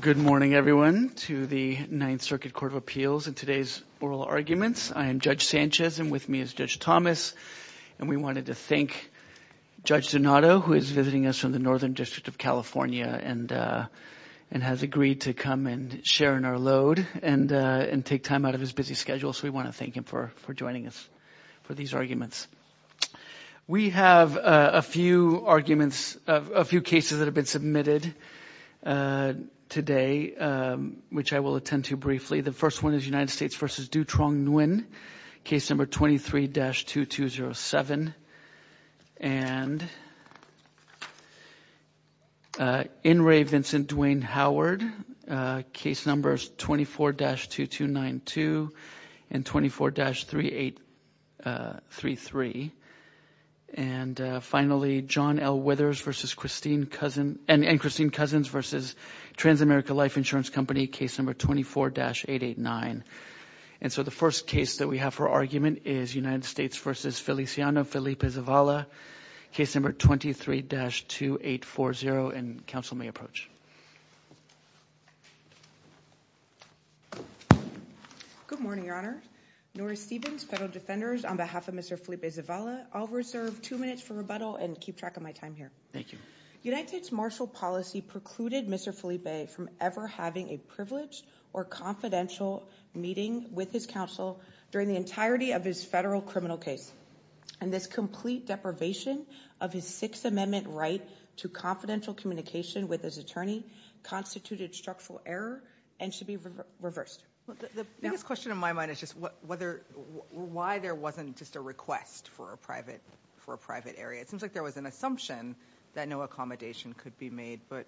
Good morning everyone to the Ninth Circuit Court of Appeals and today's oral arguments. I am Judge Sanchez and with me is Judge Thomas and we wanted to thank Judge Donato who is visiting us from the Northern District of California and has agreed to come and share in our load and take time out of his busy schedule so we want to thank him for joining us for these arguments. We have a few arguments, a few cases that have been submitted today which I will attend to briefly. The first one is United States v. Dutrong Nguyen, case number 23-2207 and In re. Dave Vincent Duane Howard, case numbers 24-2292 and 24-3833 and finally John L. Withers v. Christine Cousins v. Transamerica Life Insurance Company, case number 24-889 and so the first case that we have for argument is United States v. Feliciano Felipe-Zavala, case number 23-2840 and counsel may approach. Good morning, Your Honor. Norah Stephens, federal defenders on behalf of Mr. Felipe-Zavala, I'll reserve two minutes for rebuttal and keep track of my time here. Thank you. United States marshal policy precluded Mr. Felipe from ever having a privileged or confidential meeting with his counsel during the entirety of his federal criminal case and this complete deprivation of his Sixth Amendment right to confidential communication with his attorney constituted structural error and should be reversed. The biggest question in my mind is just why there wasn't just a request for a private area. It seems like there was an assumption that no accommodation could be made but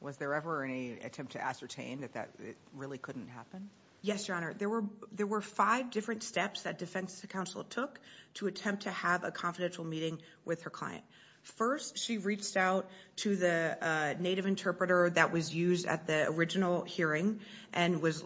was there ever any attempt to ascertain that that really couldn't happen? Yes, Your Honor. There were five different steps that defense counsel took to attempt to have a confidential meeting with her client. First she reached out to the native interpreter that was used at the original hearing and was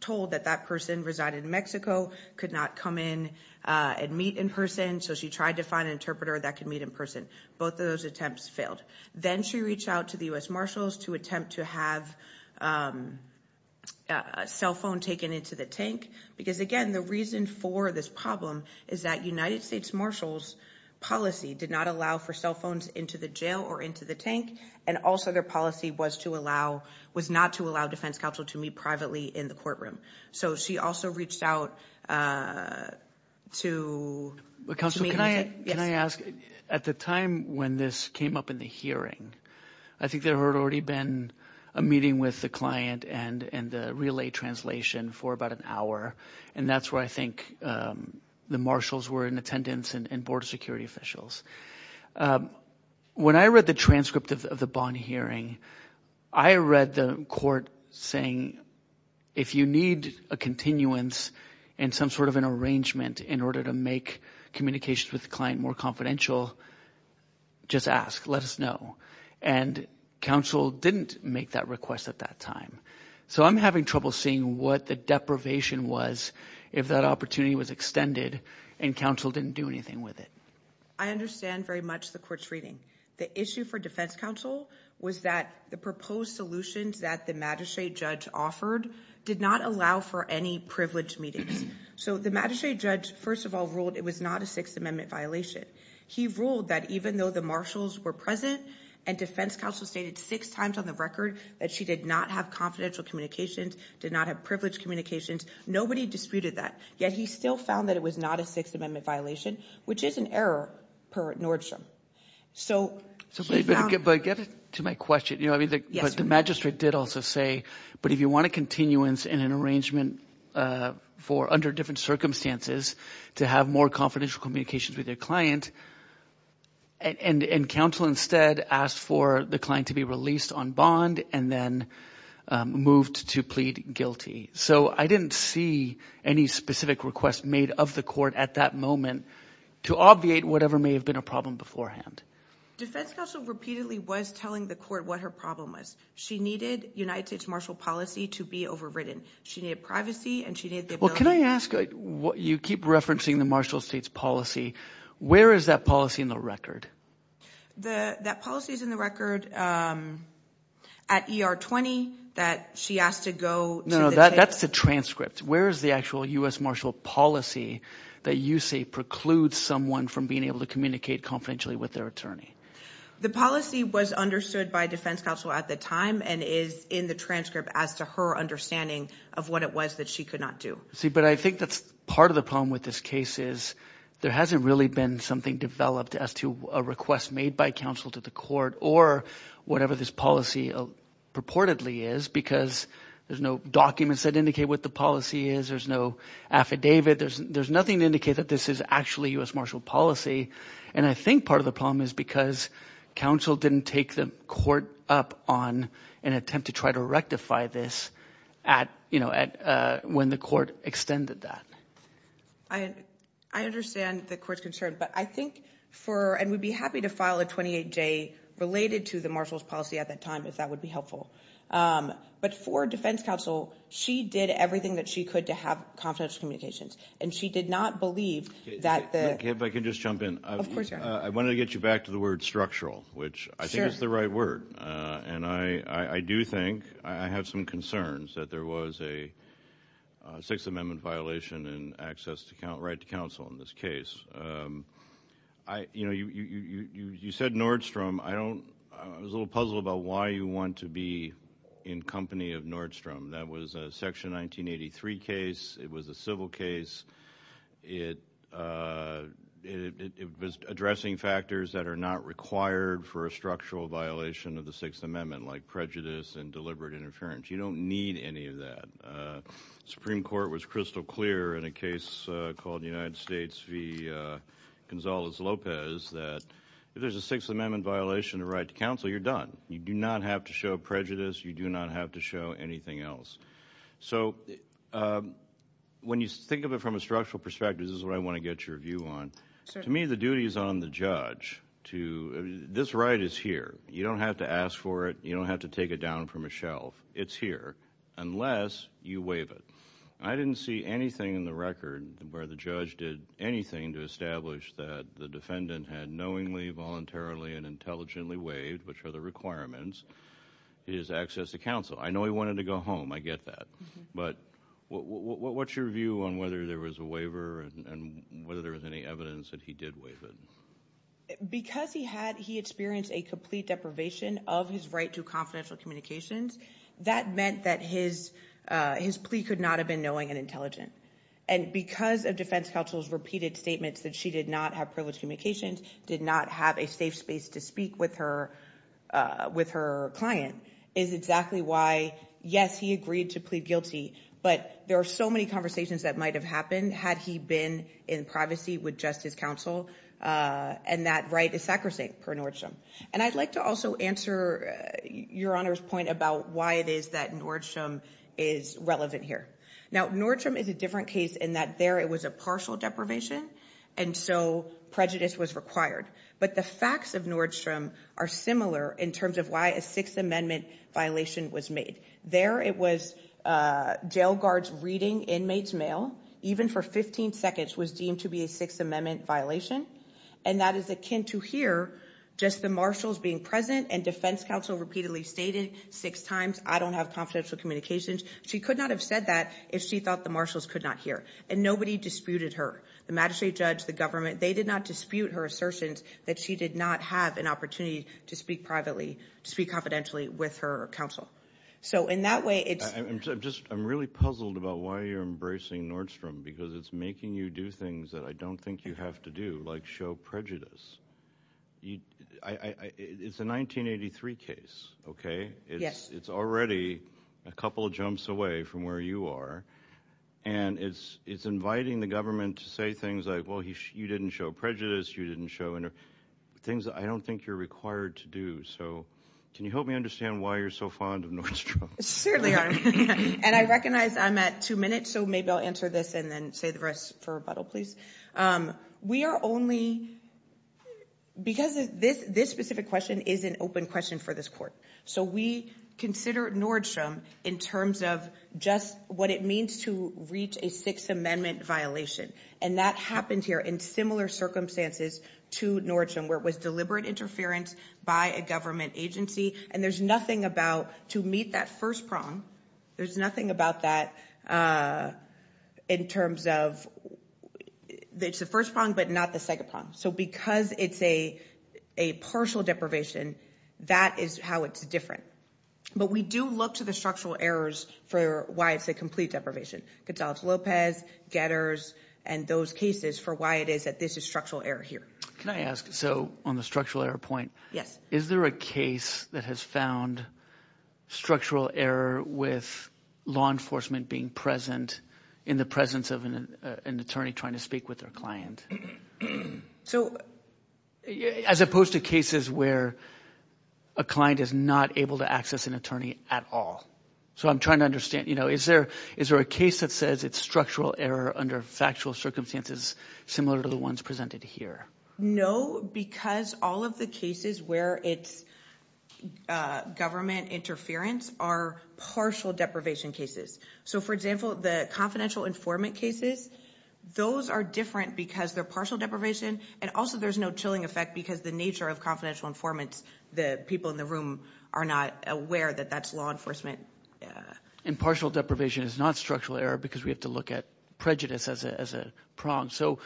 told that that person resided in Mexico, could not come in and meet in person so she tried to find an interpreter that could meet in person. Both of those attempts failed. Then she reached out to the U.S. Marshals to attempt to have a cell phone taken into the tank. Because again, the reason for this problem is that United States Marshals' policy did not allow for cell phones into the jail or into the tank and also their policy was to allow, was not to allow defense counsel to meet privately in the courtroom. So she also reached out to, to me, yes. Counsel, can I ask, at the time when this came up in the hearing, I think there had already been a meeting with the client and the relay translation for about an hour and that's where I think the Marshals were in attendance and board of security officials. When I read the transcript of the Bonn hearing, I read the court saying, if you need a continuance and some sort of an arrangement in order to make communications with the client more confidential, just ask, let us know. And counsel didn't make that request at that time. So I'm having trouble seeing what the deprivation was if that opportunity was extended and counsel didn't do anything with it. I understand very much the court's reading. The issue for defense counsel was that the proposed solutions that the Magistrate Judge offered did not allow for any privileged meetings. So the Magistrate Judge, first of all, ruled it was not a Sixth Amendment violation. He ruled that even though the Marshals were present and defense counsel stated six times on the record that she did not have confidential communications, did not have privileged communications, nobody disputed that, yet he still found that it was not a Sixth Amendment violation, which is an error per Nordstrom. So he found... But get to my question, you know, I mean, the Magistrate did also say, but if you want a continuance and an arrangement for under different circumstances to have more confidential communications with your client, and counsel instead asked for the client to be released on bond and then moved to plead guilty. So I didn't see any specific request made of the court at that moment to obviate whatever may have been a problem beforehand. Defense counsel repeatedly was telling the court what her problem was. She needed United States Marshal policy to be overridden. She needed privacy and she needed the ability... Well, can I ask, you keep referencing the Marshal state's policy. Where is that policy in the record? That policy is in the record at ER 20 that she asked to go... No, no, that's the transcript. Where is the actual U.S. Marshal policy that you say precludes someone from being able to communicate confidentially with their attorney? The policy was understood by defense counsel at the time and is in the transcript as to her understanding of what it was that she could not do. But I think that's part of the problem with this case is there hasn't really been something developed as to a request made by counsel to the court or whatever this policy purportedly is because there's no documents that indicate what the policy is, there's no affidavit, there's nothing to indicate that this is actually U.S. Marshal policy. And I think part of the problem is because counsel didn't take the court up on an attempt to try to rectify this when the court extended that. I understand the court's concern, but I think for, and we'd be happy to file a 28-J related to the Marshal's policy at that time if that would be helpful. But for defense counsel, she did everything that she could to have confidential communications and she did not believe that the... If I could just jump in. Of course, Your Honor. I wanted to get you back to the word structural, which I think is the right word. And I do think, I have some concerns that there was a Sixth Amendment violation in access to right to counsel in this case. You said Nordstrom. I was a little puzzled about why you want to be in company of Nordstrom. That was a Section 1983 case, it was a civil case, it was addressing factors that are not required for a structural violation of the Sixth Amendment, like prejudice and deliberate interference. You don't need any of that. Supreme Court was crystal clear in a case called the United States v. Gonzales-Lopez that if there's a Sixth Amendment violation of right to counsel, you're done. You do not have to show prejudice. You do not have to show anything else. So when you think of it from a structural perspective, this is what I want to get your view on. To me, the duty is on the judge. This right is here. You don't have to ask for it. You don't have to take it down from a shelf. It's here, unless you waive it. I didn't see anything in the record where the judge did anything to establish that the defendant had knowingly, voluntarily, and intelligently waived, which are the requirements, his access to counsel. I know he wanted to go home, I get that. But what's your view on whether there was a waiver and whether there was any evidence that he did waive it? Because he experienced a complete deprivation of his right to confidential communications, that meant that his plea could not have been knowing and intelligent. And because of defense counsel's repeated statements that she did not have privileged communications, did not have a safe space to speak with her client is exactly why, yes, he agreed to plead guilty, but there are so many conversations that might have happened had he been in privacy with justice counsel, and that right is sacrosanct for Nordstrom. And I'd like to also answer your Honor's point about why it is that Nordstrom is relevant here. Now, Nordstrom is a different case in that there it was a partial deprivation, and so prejudice was required. But the facts of Nordstrom are similar in terms of why a Sixth Amendment violation was made. There it was jail guards reading inmates' mail, even for 15 seconds was deemed to be a Sixth Amendment violation, and that is akin to here, just the marshals being present and defense counsel repeatedly stated six times, I don't have confidential communications. She could not have said that if she thought the marshals could not hear, and nobody disputed her. The magistrate judge, the government, they did not dispute her assertions that she did not have an opportunity to speak privately, to speak confidentially with her counsel. So in that way, it's... I'm just, I'm really puzzled about why you're embracing Nordstrom, because it's making you do things that I don't think you have to do, like show prejudice. It's a 1983 case, okay? It's already a couple of jumps away from where you are, and it's inviting the government to say things like, well, you didn't show prejudice, you didn't show... Things I don't think you're required to do, so can you help me understand why you're so fond of Nordstrom? Certainly, Your Honor, and I recognize I'm at two minutes, so maybe I'll answer this and then say the rest for rebuttal, please. We are only... Because this specific question is an open question for this court. So we consider Nordstrom in terms of just what it means to reach a Sixth Amendment violation, and that happened here in similar circumstances to Nordstrom, where it was deliberate interference by a government agency, and there's nothing about... To meet that first prong, there's nothing about that in terms of... It's the first prong, but not the second prong. So because it's a partial deprivation, that is how it's different. But we do look to the structural errors for why it's a complete deprivation. Gonzalez-Lopez, Getters, and those cases for why it is that this is structural error here. Can I ask, so on the structural error point, is there a case that has found structural error with law enforcement being present in the presence of an attorney trying to speak with their client? As opposed to cases where a client is not able to access an attorney at all. So I'm trying to understand, is there a case that says it's structural error under factual circumstances similar to the ones presented here? No, because all of the cases where it's government interference are partial deprivation cases. So for example, the confidential informant cases, those are different because they're partial deprivation, and also there's no chilling effect because the nature of confidential informants, the people in the room are not aware that that's law enforcement. And partial deprivation is not structural error because we have to look at prejudice as a prong. So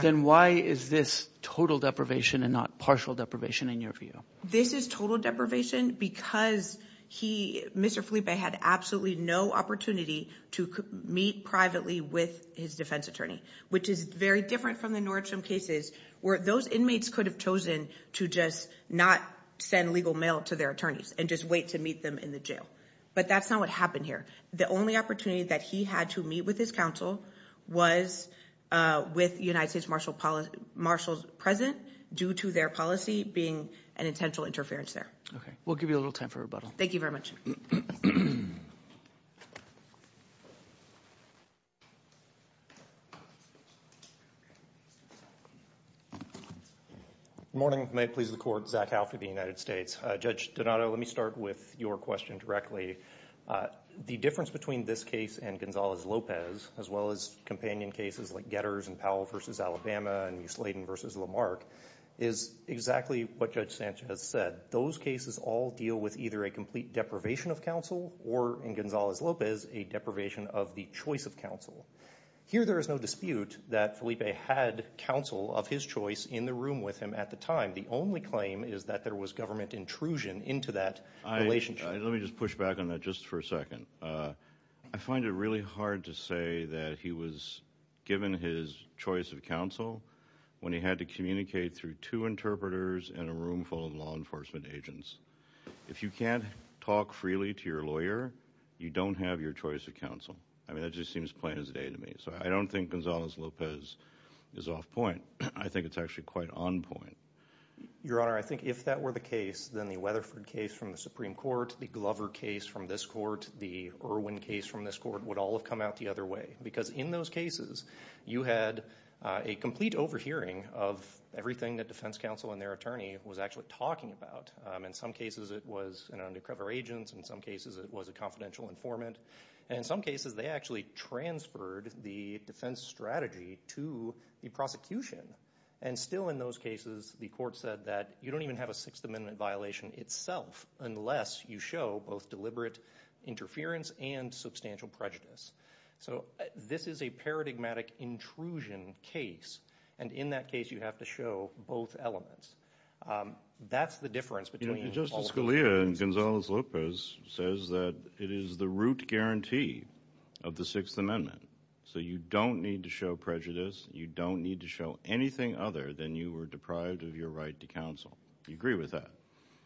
then why is this total deprivation and not partial deprivation in your view? This is total deprivation because he, Mr. Felipe, had absolutely no opportunity to meet privately with his defense attorney, which is very different from the Nordstrom cases where those inmates could have chosen to just not send legal mail to their attorneys and just wait to meet them in the jail. But that's not what happened here. The only opportunity that he had to meet with his counsel was with United States Marshals present due to their policy being an intentional interference there. Okay, we'll give you a little time for rebuttal. Thank you very much. Good morning, may it please the court. Zach Halfie, the United States. Judge Donato, let me start with your question directly. The difference between this case and Gonzalez-Lopez, as well as companion cases like Getters and Powell v. Alabama and New Sladen v. Lamarck, is exactly what Judge Sanchez said. Those cases all deal with either a complete deprivation of counsel or, in Gonzalez-Lopez, a deprivation of the choice of counsel. Here there is no dispute that Felipe had counsel of his choice in the room with him at the time. The only claim is that there was government intrusion into that relationship. Let me just push back on that just for a second. I find it really hard to say that he was given his choice of counsel when he had to communicate through two interpreters in a room full of law enforcement agents. If you can't talk freely to your lawyer, you don't have your choice of counsel. I mean, that just seems plain as day to me. So I don't think Gonzalez-Lopez is off point. I think it's actually quite on point. Your Honor, I think if that were the case, then the Weatherford case from the Supreme Court, the Glover case from this court, the Irwin case from this court would all have come out the other way. Because in those cases, you had a complete overhearing of everything that defense counsel and their attorney was actually talking about. In some cases it was an undercover agent, in some cases it was a confidential informant, and in some cases they actually transferred the defense strategy to the prosecution. And still in those cases, the court said that you don't even have a Sixth Amendment violation itself unless you show both deliberate interference and substantial prejudice. So this is a paradigmatic intrusion case. And in that case, you have to show both elements. That's the difference between all of those things. Justice Scalia and Gonzalez-Lopez says that it is the root guarantee of the Sixth Amendment. So you don't need to show prejudice. You don't need to show anything other than you were deprived of your right to counsel. You agree with that?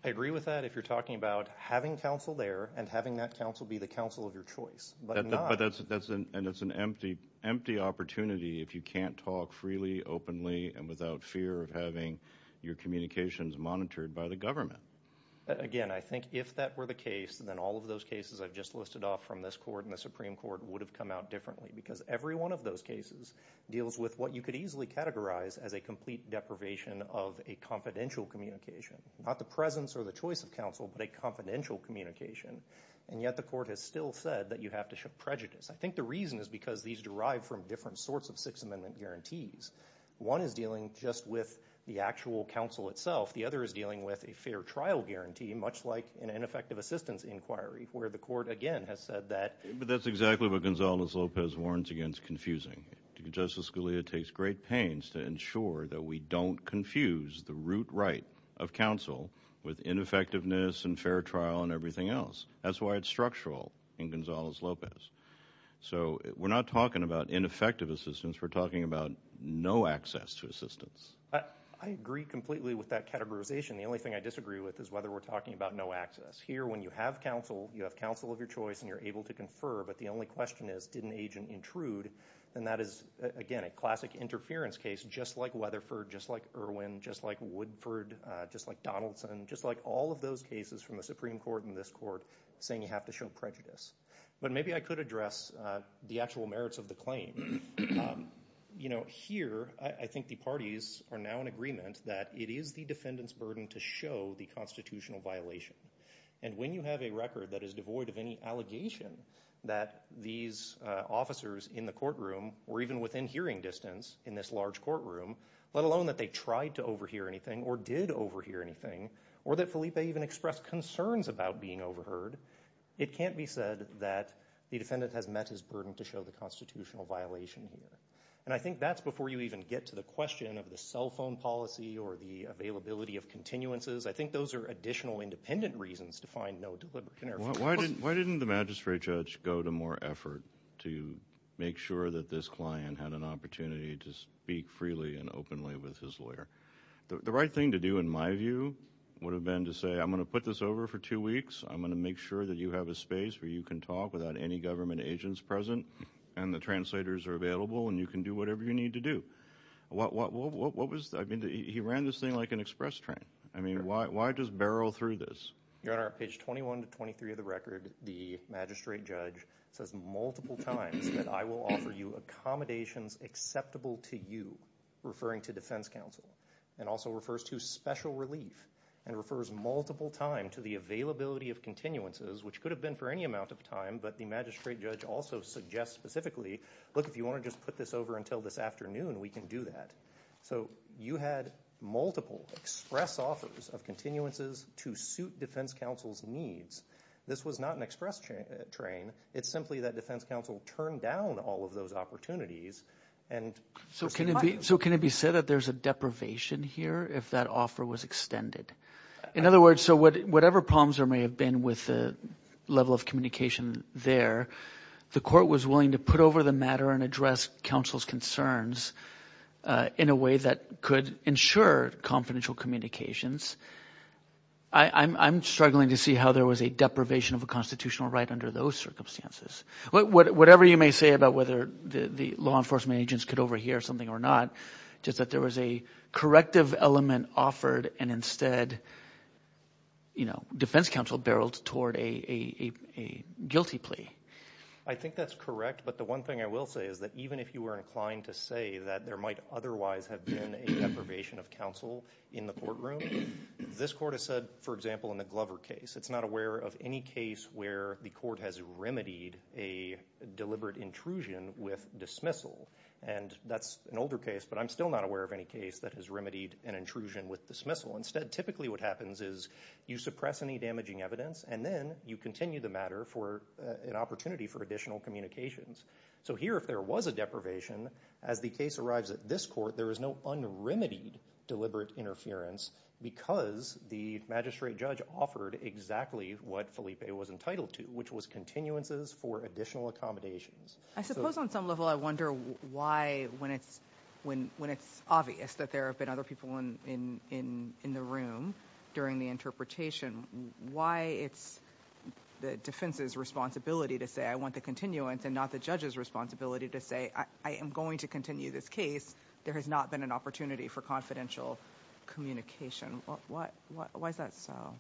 I agree with that if you're talking about having counsel there and having that counsel be the counsel of your choice. But that's an empty opportunity if you can't talk freely, openly, and without fear of having your communications monitored by the government. Again, I think if that were the case, then all of those cases I've just listed off from this court and the Supreme Court would have come out differently. Because every one of those cases deals with what you could easily categorize as a complete deprivation of a confidential communication. Not the presence or the choice of counsel, but a confidential communication. And yet the court has still said that you have to show prejudice. I think the reason is because these derive from different sorts of Sixth Amendment guarantees. One is dealing just with the actual counsel itself. The other is dealing with a fair trial guarantee, much like an ineffective assistance inquiry, where the court again has said that... But that's exactly what Gonzalez-Lopez warns against confusing. Justice Scalia takes great pains to ensure that we don't confuse the root right of counsel with ineffectiveness and fair trial and everything else. That's why it's structural in Gonzalez-Lopez. So we're not talking about ineffective assistance, we're talking about no access to assistance. I agree completely with that categorization. The only thing I disagree with is whether we're talking about no access. Here when you have counsel, you have counsel of your choice and you're able to confer, but the only question is, did an agent intrude? And that is, again, a classic interference case, just like Weatherford, just like Irwin, just like Woodford, just like Donaldson, just like all of those cases from the Supreme Court and this court saying you have to show prejudice. But maybe I could address the actual merits of the claim. You know, here I think the parties are now in agreement that it is the defendant's burden to show the constitutional violation. And when you have a record that is devoid of any allegation that these officers in the courtroom or even within hearing distance in this large courtroom, let alone that they tried to overhear anything or did overhear anything or that Felipe even expressed concerns about being overheard, it can't be said that the defendant has met his burden to show the constitutional violation here. And I think that's before you even get to the question of the cell phone policy or the availability of continuances. I think those are additional independent reasons to find no deliberate interference. Why didn't the magistrate judge go to more effort to make sure that this client had an opportunity to speak freely and openly with his lawyer? The right thing to do, in my view, would have been to say, I'm going to put this over for two weeks. I'm going to make sure that you have a space where you can talk without any government agents present and the translators are available and you can do whatever you need to do. What was, I mean, he ran this thing like an express train. I mean, why just barrel through this? Your Honor, page 21 to 23 of the record, the magistrate judge says multiple times that I will offer you accommodations acceptable to you, referring to defense counsel, and also refers to special relief and refers multiple times to the availability of continuances, which could have been for any amount of time, but the magistrate judge also suggests specifically, look, if you want to just put this over until this afternoon, we can do that. So, you had multiple express offers of continuances to suit defense counsel's needs. This was not an express train. It's simply that defense counsel turned down all of those opportunities and pursued the money. So, can it be said that there's a deprivation here if that offer was extended? In other words, so whatever problems there may have been with the level of communication there, the court was willing to put over the matter and address counsel's concerns in a way that could ensure confidential communications. I'm struggling to see how there was a deprivation of a constitutional right under those circumstances. Whatever you may say about whether the law enforcement agents could overhear something or not, just that there was a corrective element offered and instead, you know, I think that's correct, but the one thing I will say is that even if you were inclined to say that there might otherwise have been a deprivation of counsel in the courtroom, this court has said, for example, in the Glover case, it's not aware of any case where the court has remedied a deliberate intrusion with dismissal. And that's an older case, but I'm still not aware of any case that has remedied an intrusion with dismissal. Instead, typically what happens is you suppress any damaging evidence and then you continue the matter for an opportunity for additional communications. So here, if there was a deprivation, as the case arrives at this court, there is no unremedied deliberate interference because the magistrate judge offered exactly what Felipe was entitled to, which was continuances for additional accommodations. I suppose on some level, I wonder why when it's obvious that there have been other people in the room during the interpretation, why it's the defense's responsibility to say, I want the continuance and not the judge's responsibility to say, I am going to continue this case. There has not been an opportunity for confidential communication. Why is that so?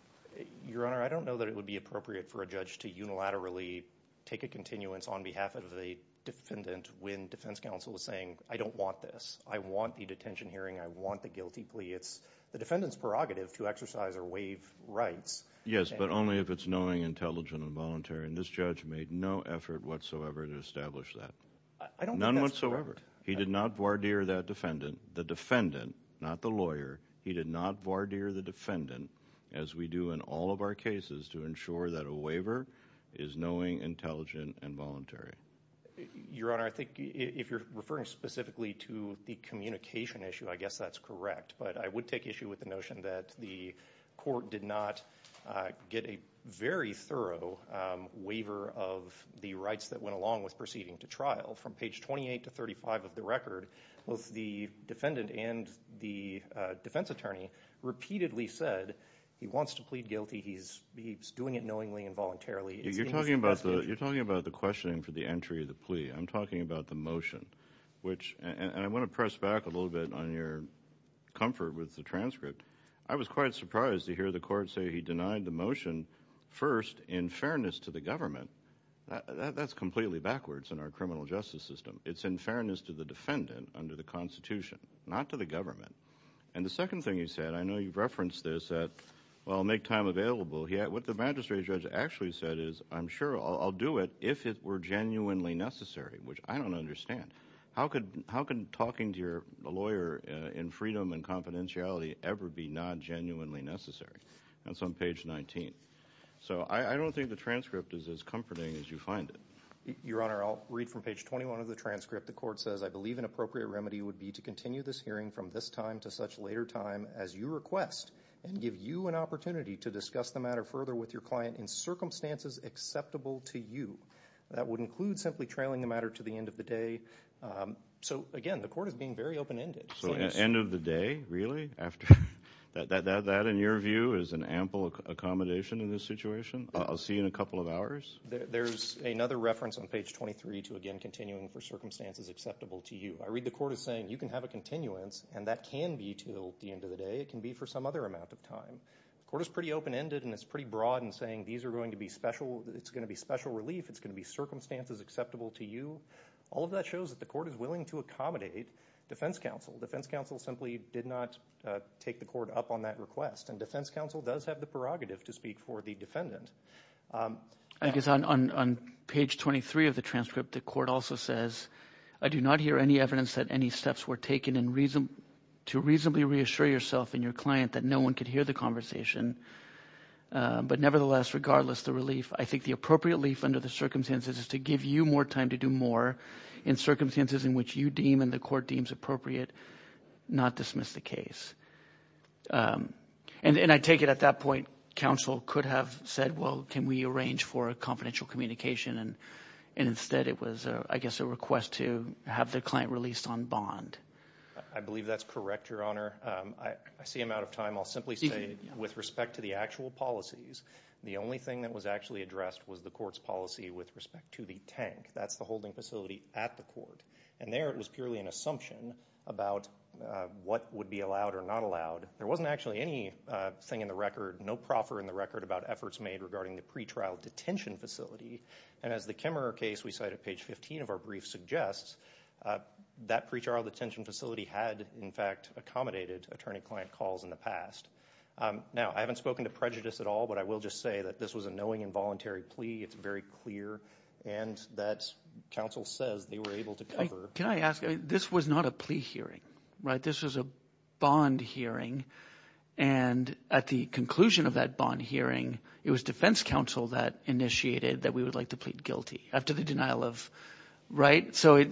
Your Honor, I don't know that it would be appropriate for a judge to unilaterally take a continuance on behalf of the defendant when defense counsel is saying, I don't want this. I want the detention hearing. I want the guilty plea. It's the defendant's prerogative to exercise or waive rights. Yes, but only if it's knowing, intelligent, and voluntary. And this judge made no effort whatsoever to establish that. None whatsoever. He did not voir dire that defendant. The defendant, not the lawyer, he did not voir dire the defendant, as we do in all of our cases, to ensure that a waiver is knowing, intelligent, and voluntary. Your Honor, I think if you're referring specifically to the communication issue, I guess that's correct. But I would take issue with the notion that the court did not get a very thorough waiver of the rights that went along with proceeding to trial. From page 28 to 35 of the record, both the defendant and the defense attorney repeatedly said, he wants to plead guilty. He's doing it knowingly and voluntarily. You're talking about the questioning for the entry of the plea. I'm talking about the motion, which, and I pressed back a little bit on your comfort with the transcript. I was quite surprised to hear the court say he denied the motion, first, in fairness to the government. That's completely backwards in our criminal justice system. It's in fairness to the defendant under the Constitution, not to the government. And the second thing he said, I know you've referenced this, I'll make time available. What the magistrate judge actually said is, I'm sure I'll do it if it were genuinely necessary, which I don't understand. How can talking to your lawyer in freedom and confidentiality ever be not genuinely necessary? That's on page 19. So I don't think the transcript is as comforting as you find it. Your Honor, I'll read from page 21 of the transcript. The court says, I believe an appropriate remedy would be to continue this hearing from this time to such later time as you request, and give you an opportunity to discuss the matter further with your client in circumstances acceptable to you. That would include simply trailing the matter to the end of the day. So again, the court is being very open-ended. So end of the day, really? That, in your view, is an ample accommodation in this situation? I'll see you in a couple of hours? There's another reference on page 23 to, again, continuing for circumstances acceptable to you. I read the court as saying, you can have a continuance, and that can be till the end of the day. It can be for some other amount of time. The court is pretty open-ended, and it's pretty broad in saying, these are going to be special. It's going to be special relief. It's going to be circumstances acceptable to you. All of that shows that the court is willing to accommodate defense counsel. Defense counsel simply did not take the court up on that request, and defense counsel does have the prerogative to speak for the defendant. I guess on page 23 of the transcript, the court also says, I do not hear any evidence that any steps were taken to reasonably reassure yourself and your client that no one could hear the conversation. But nevertheless, regardless, the relief, under the circumstances, is to give you more time to do more in circumstances in which you deem and the court deems appropriate, not dismiss the case. And I take it at that point, counsel could have said, well, can we arrange for a confidential communication? And instead, it was, I guess, a request to have the client released on bond. I believe that's correct, Your Honor. I see I'm out of time. I'll simply say, with respect to the actual policies, the only thing that was actually addressed was the court's policy with respect to the tank. That's the holding facility at the court. And there, it was purely an assumption about what would be allowed or not allowed. There wasn't actually anything in the record, no proffer in the record, about efforts made regarding the pretrial detention facility. And as the Kimmerer case we cite at page 15 of our brief suggests, that pretrial detention facility had, in fact, accommodated attorney-client calls in the past. Now, I haven't spoken to prejudice at all, but I will just say that this was a knowing, involuntary plea. It's very clear. And that counsel says they were able to cover. Can I ask, this was not a plea hearing, right? This was a bond hearing. And at the conclusion of that bond hearing, it was defense counsel that initiated that we would like to plead guilty after the denial of, right? So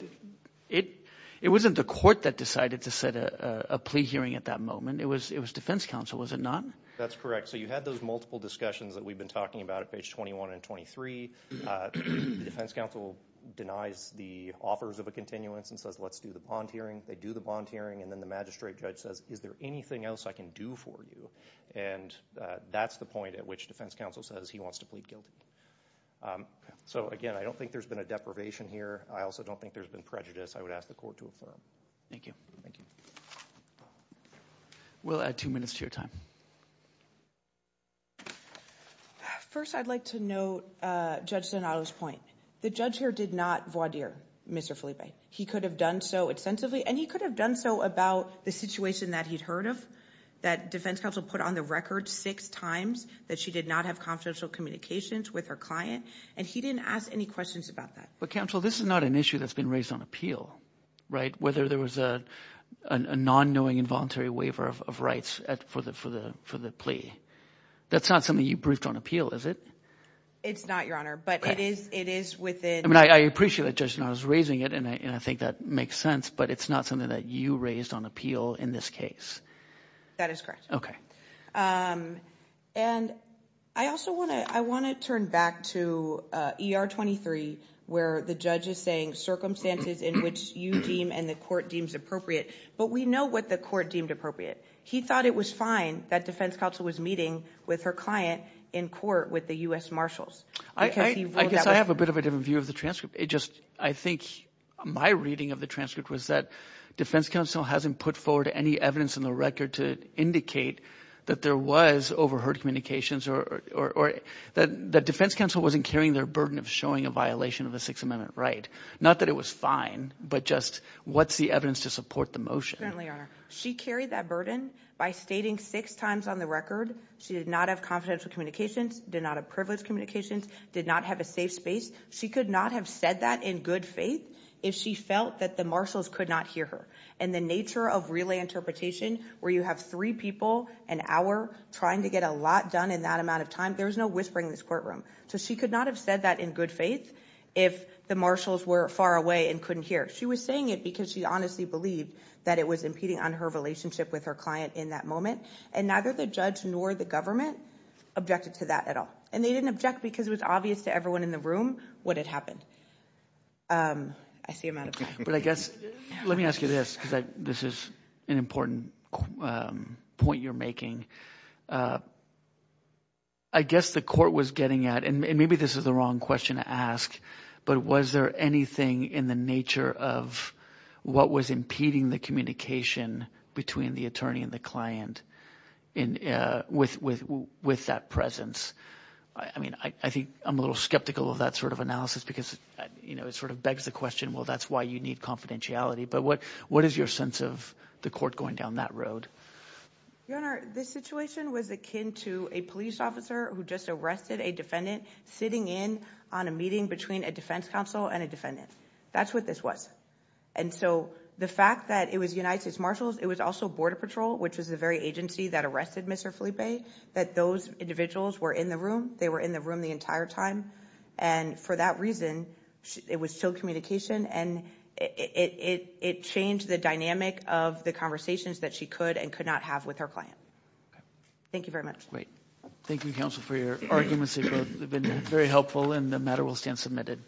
it wasn't the court that decided to set a plea hearing at that moment. It was defense counsel, was it not? That's correct. So you had those multiple discussions that we've been talking about at page 21 and 23. The defense counsel denies the offers of a continuance and says, let's do the bond hearing. They do the bond hearing, and then the magistrate judge says, is there anything else I can do for you? And that's the point at which defense counsel says he wants to plead guilty. So again, I don't think there's been a deprivation here. I also don't think there's been prejudice. I would ask the court to affirm. Thank you. We'll add two minutes to your time. First, I'd like to note Judge Donato's point. The judge here did not voir dire Mr. Felipe. He could have done so extensively, and he could have done so about the situation that he'd heard of, that defense counsel put on the record six times that she did not have confidential communications with her client, and he didn't ask any questions about that. But counsel, this is not an issue that's been raised on appeal, right? Whether there was a non-knowing involuntary waiver of rights for the plea. That's not something you briefed on appeal, is it? It's not, Your Honor, but it is within- I mean, I appreciate that Judge Donato's raising it, and I think that makes sense, but it's not something that you raised on appeal in this case. That is correct. Okay. And I also wanna turn back to ER 23, where the judge is saying circumstances in which you deem and the court deems appropriate, but we know what the court deemed appropriate. He thought it was fine that defense counsel was meeting with her client in court with the U.S. Marshals, because he ruled that was- I guess I have a bit of a different view of the transcript. I think my reading of the transcript was that defense counsel hasn't put forward any evidence in the record to indicate that there was overheard communications, or that defense counsel wasn't carrying their burden of showing a violation of the Sixth Amendment right. Not that it was fine, but just what's the evidence to support the motion? She carried that burden by stating six times on the record she did not have confidential communications, did not have privileged communications, did not have a safe space. She could not have said that in good faith if she felt that the Marshals could not hear her. And the nature of relay interpretation, where you have three people an hour trying to get a lot done in that amount of time, there was no whispering in this courtroom. So she could not have said that in good faith if the Marshals were far away and couldn't hear. She was saying it because she honestly believed that it was impeding on her relationship with her client in that moment. And neither the judge nor the government objected to that at all. And they didn't object because it was obvious to everyone in the room what had happened. I see I'm out of time. But I guess, let me ask you this, because this is an important point you're making. I guess the court was getting at, and maybe this is the wrong question to ask, but was there anything in the nature of what was impeding the communication between the attorney and the client with that presence? I mean, I think I'm a little skeptical of that sort of analysis, because it sort of begs the question, well, that's why you need confidentiality. But what is your sense of the court going down that road? Your Honor, this situation was akin to a police officer who just arrested a defendant sitting in on a meeting between a defense counsel and a defendant. That's what this was. And so the fact that it was United States Marshals, it was also Border Patrol, which was the very agency that arrested Mr. Felipe, that those individuals were in the room. They were in the room the entire time. And for that reason, it was still communication. And it changed the dynamic of the conversations that she could and could not have with her client. Thank you very much. Great. Thank you, counsel, for your arguments. They've both been very helpful, and the matter will stand submitted.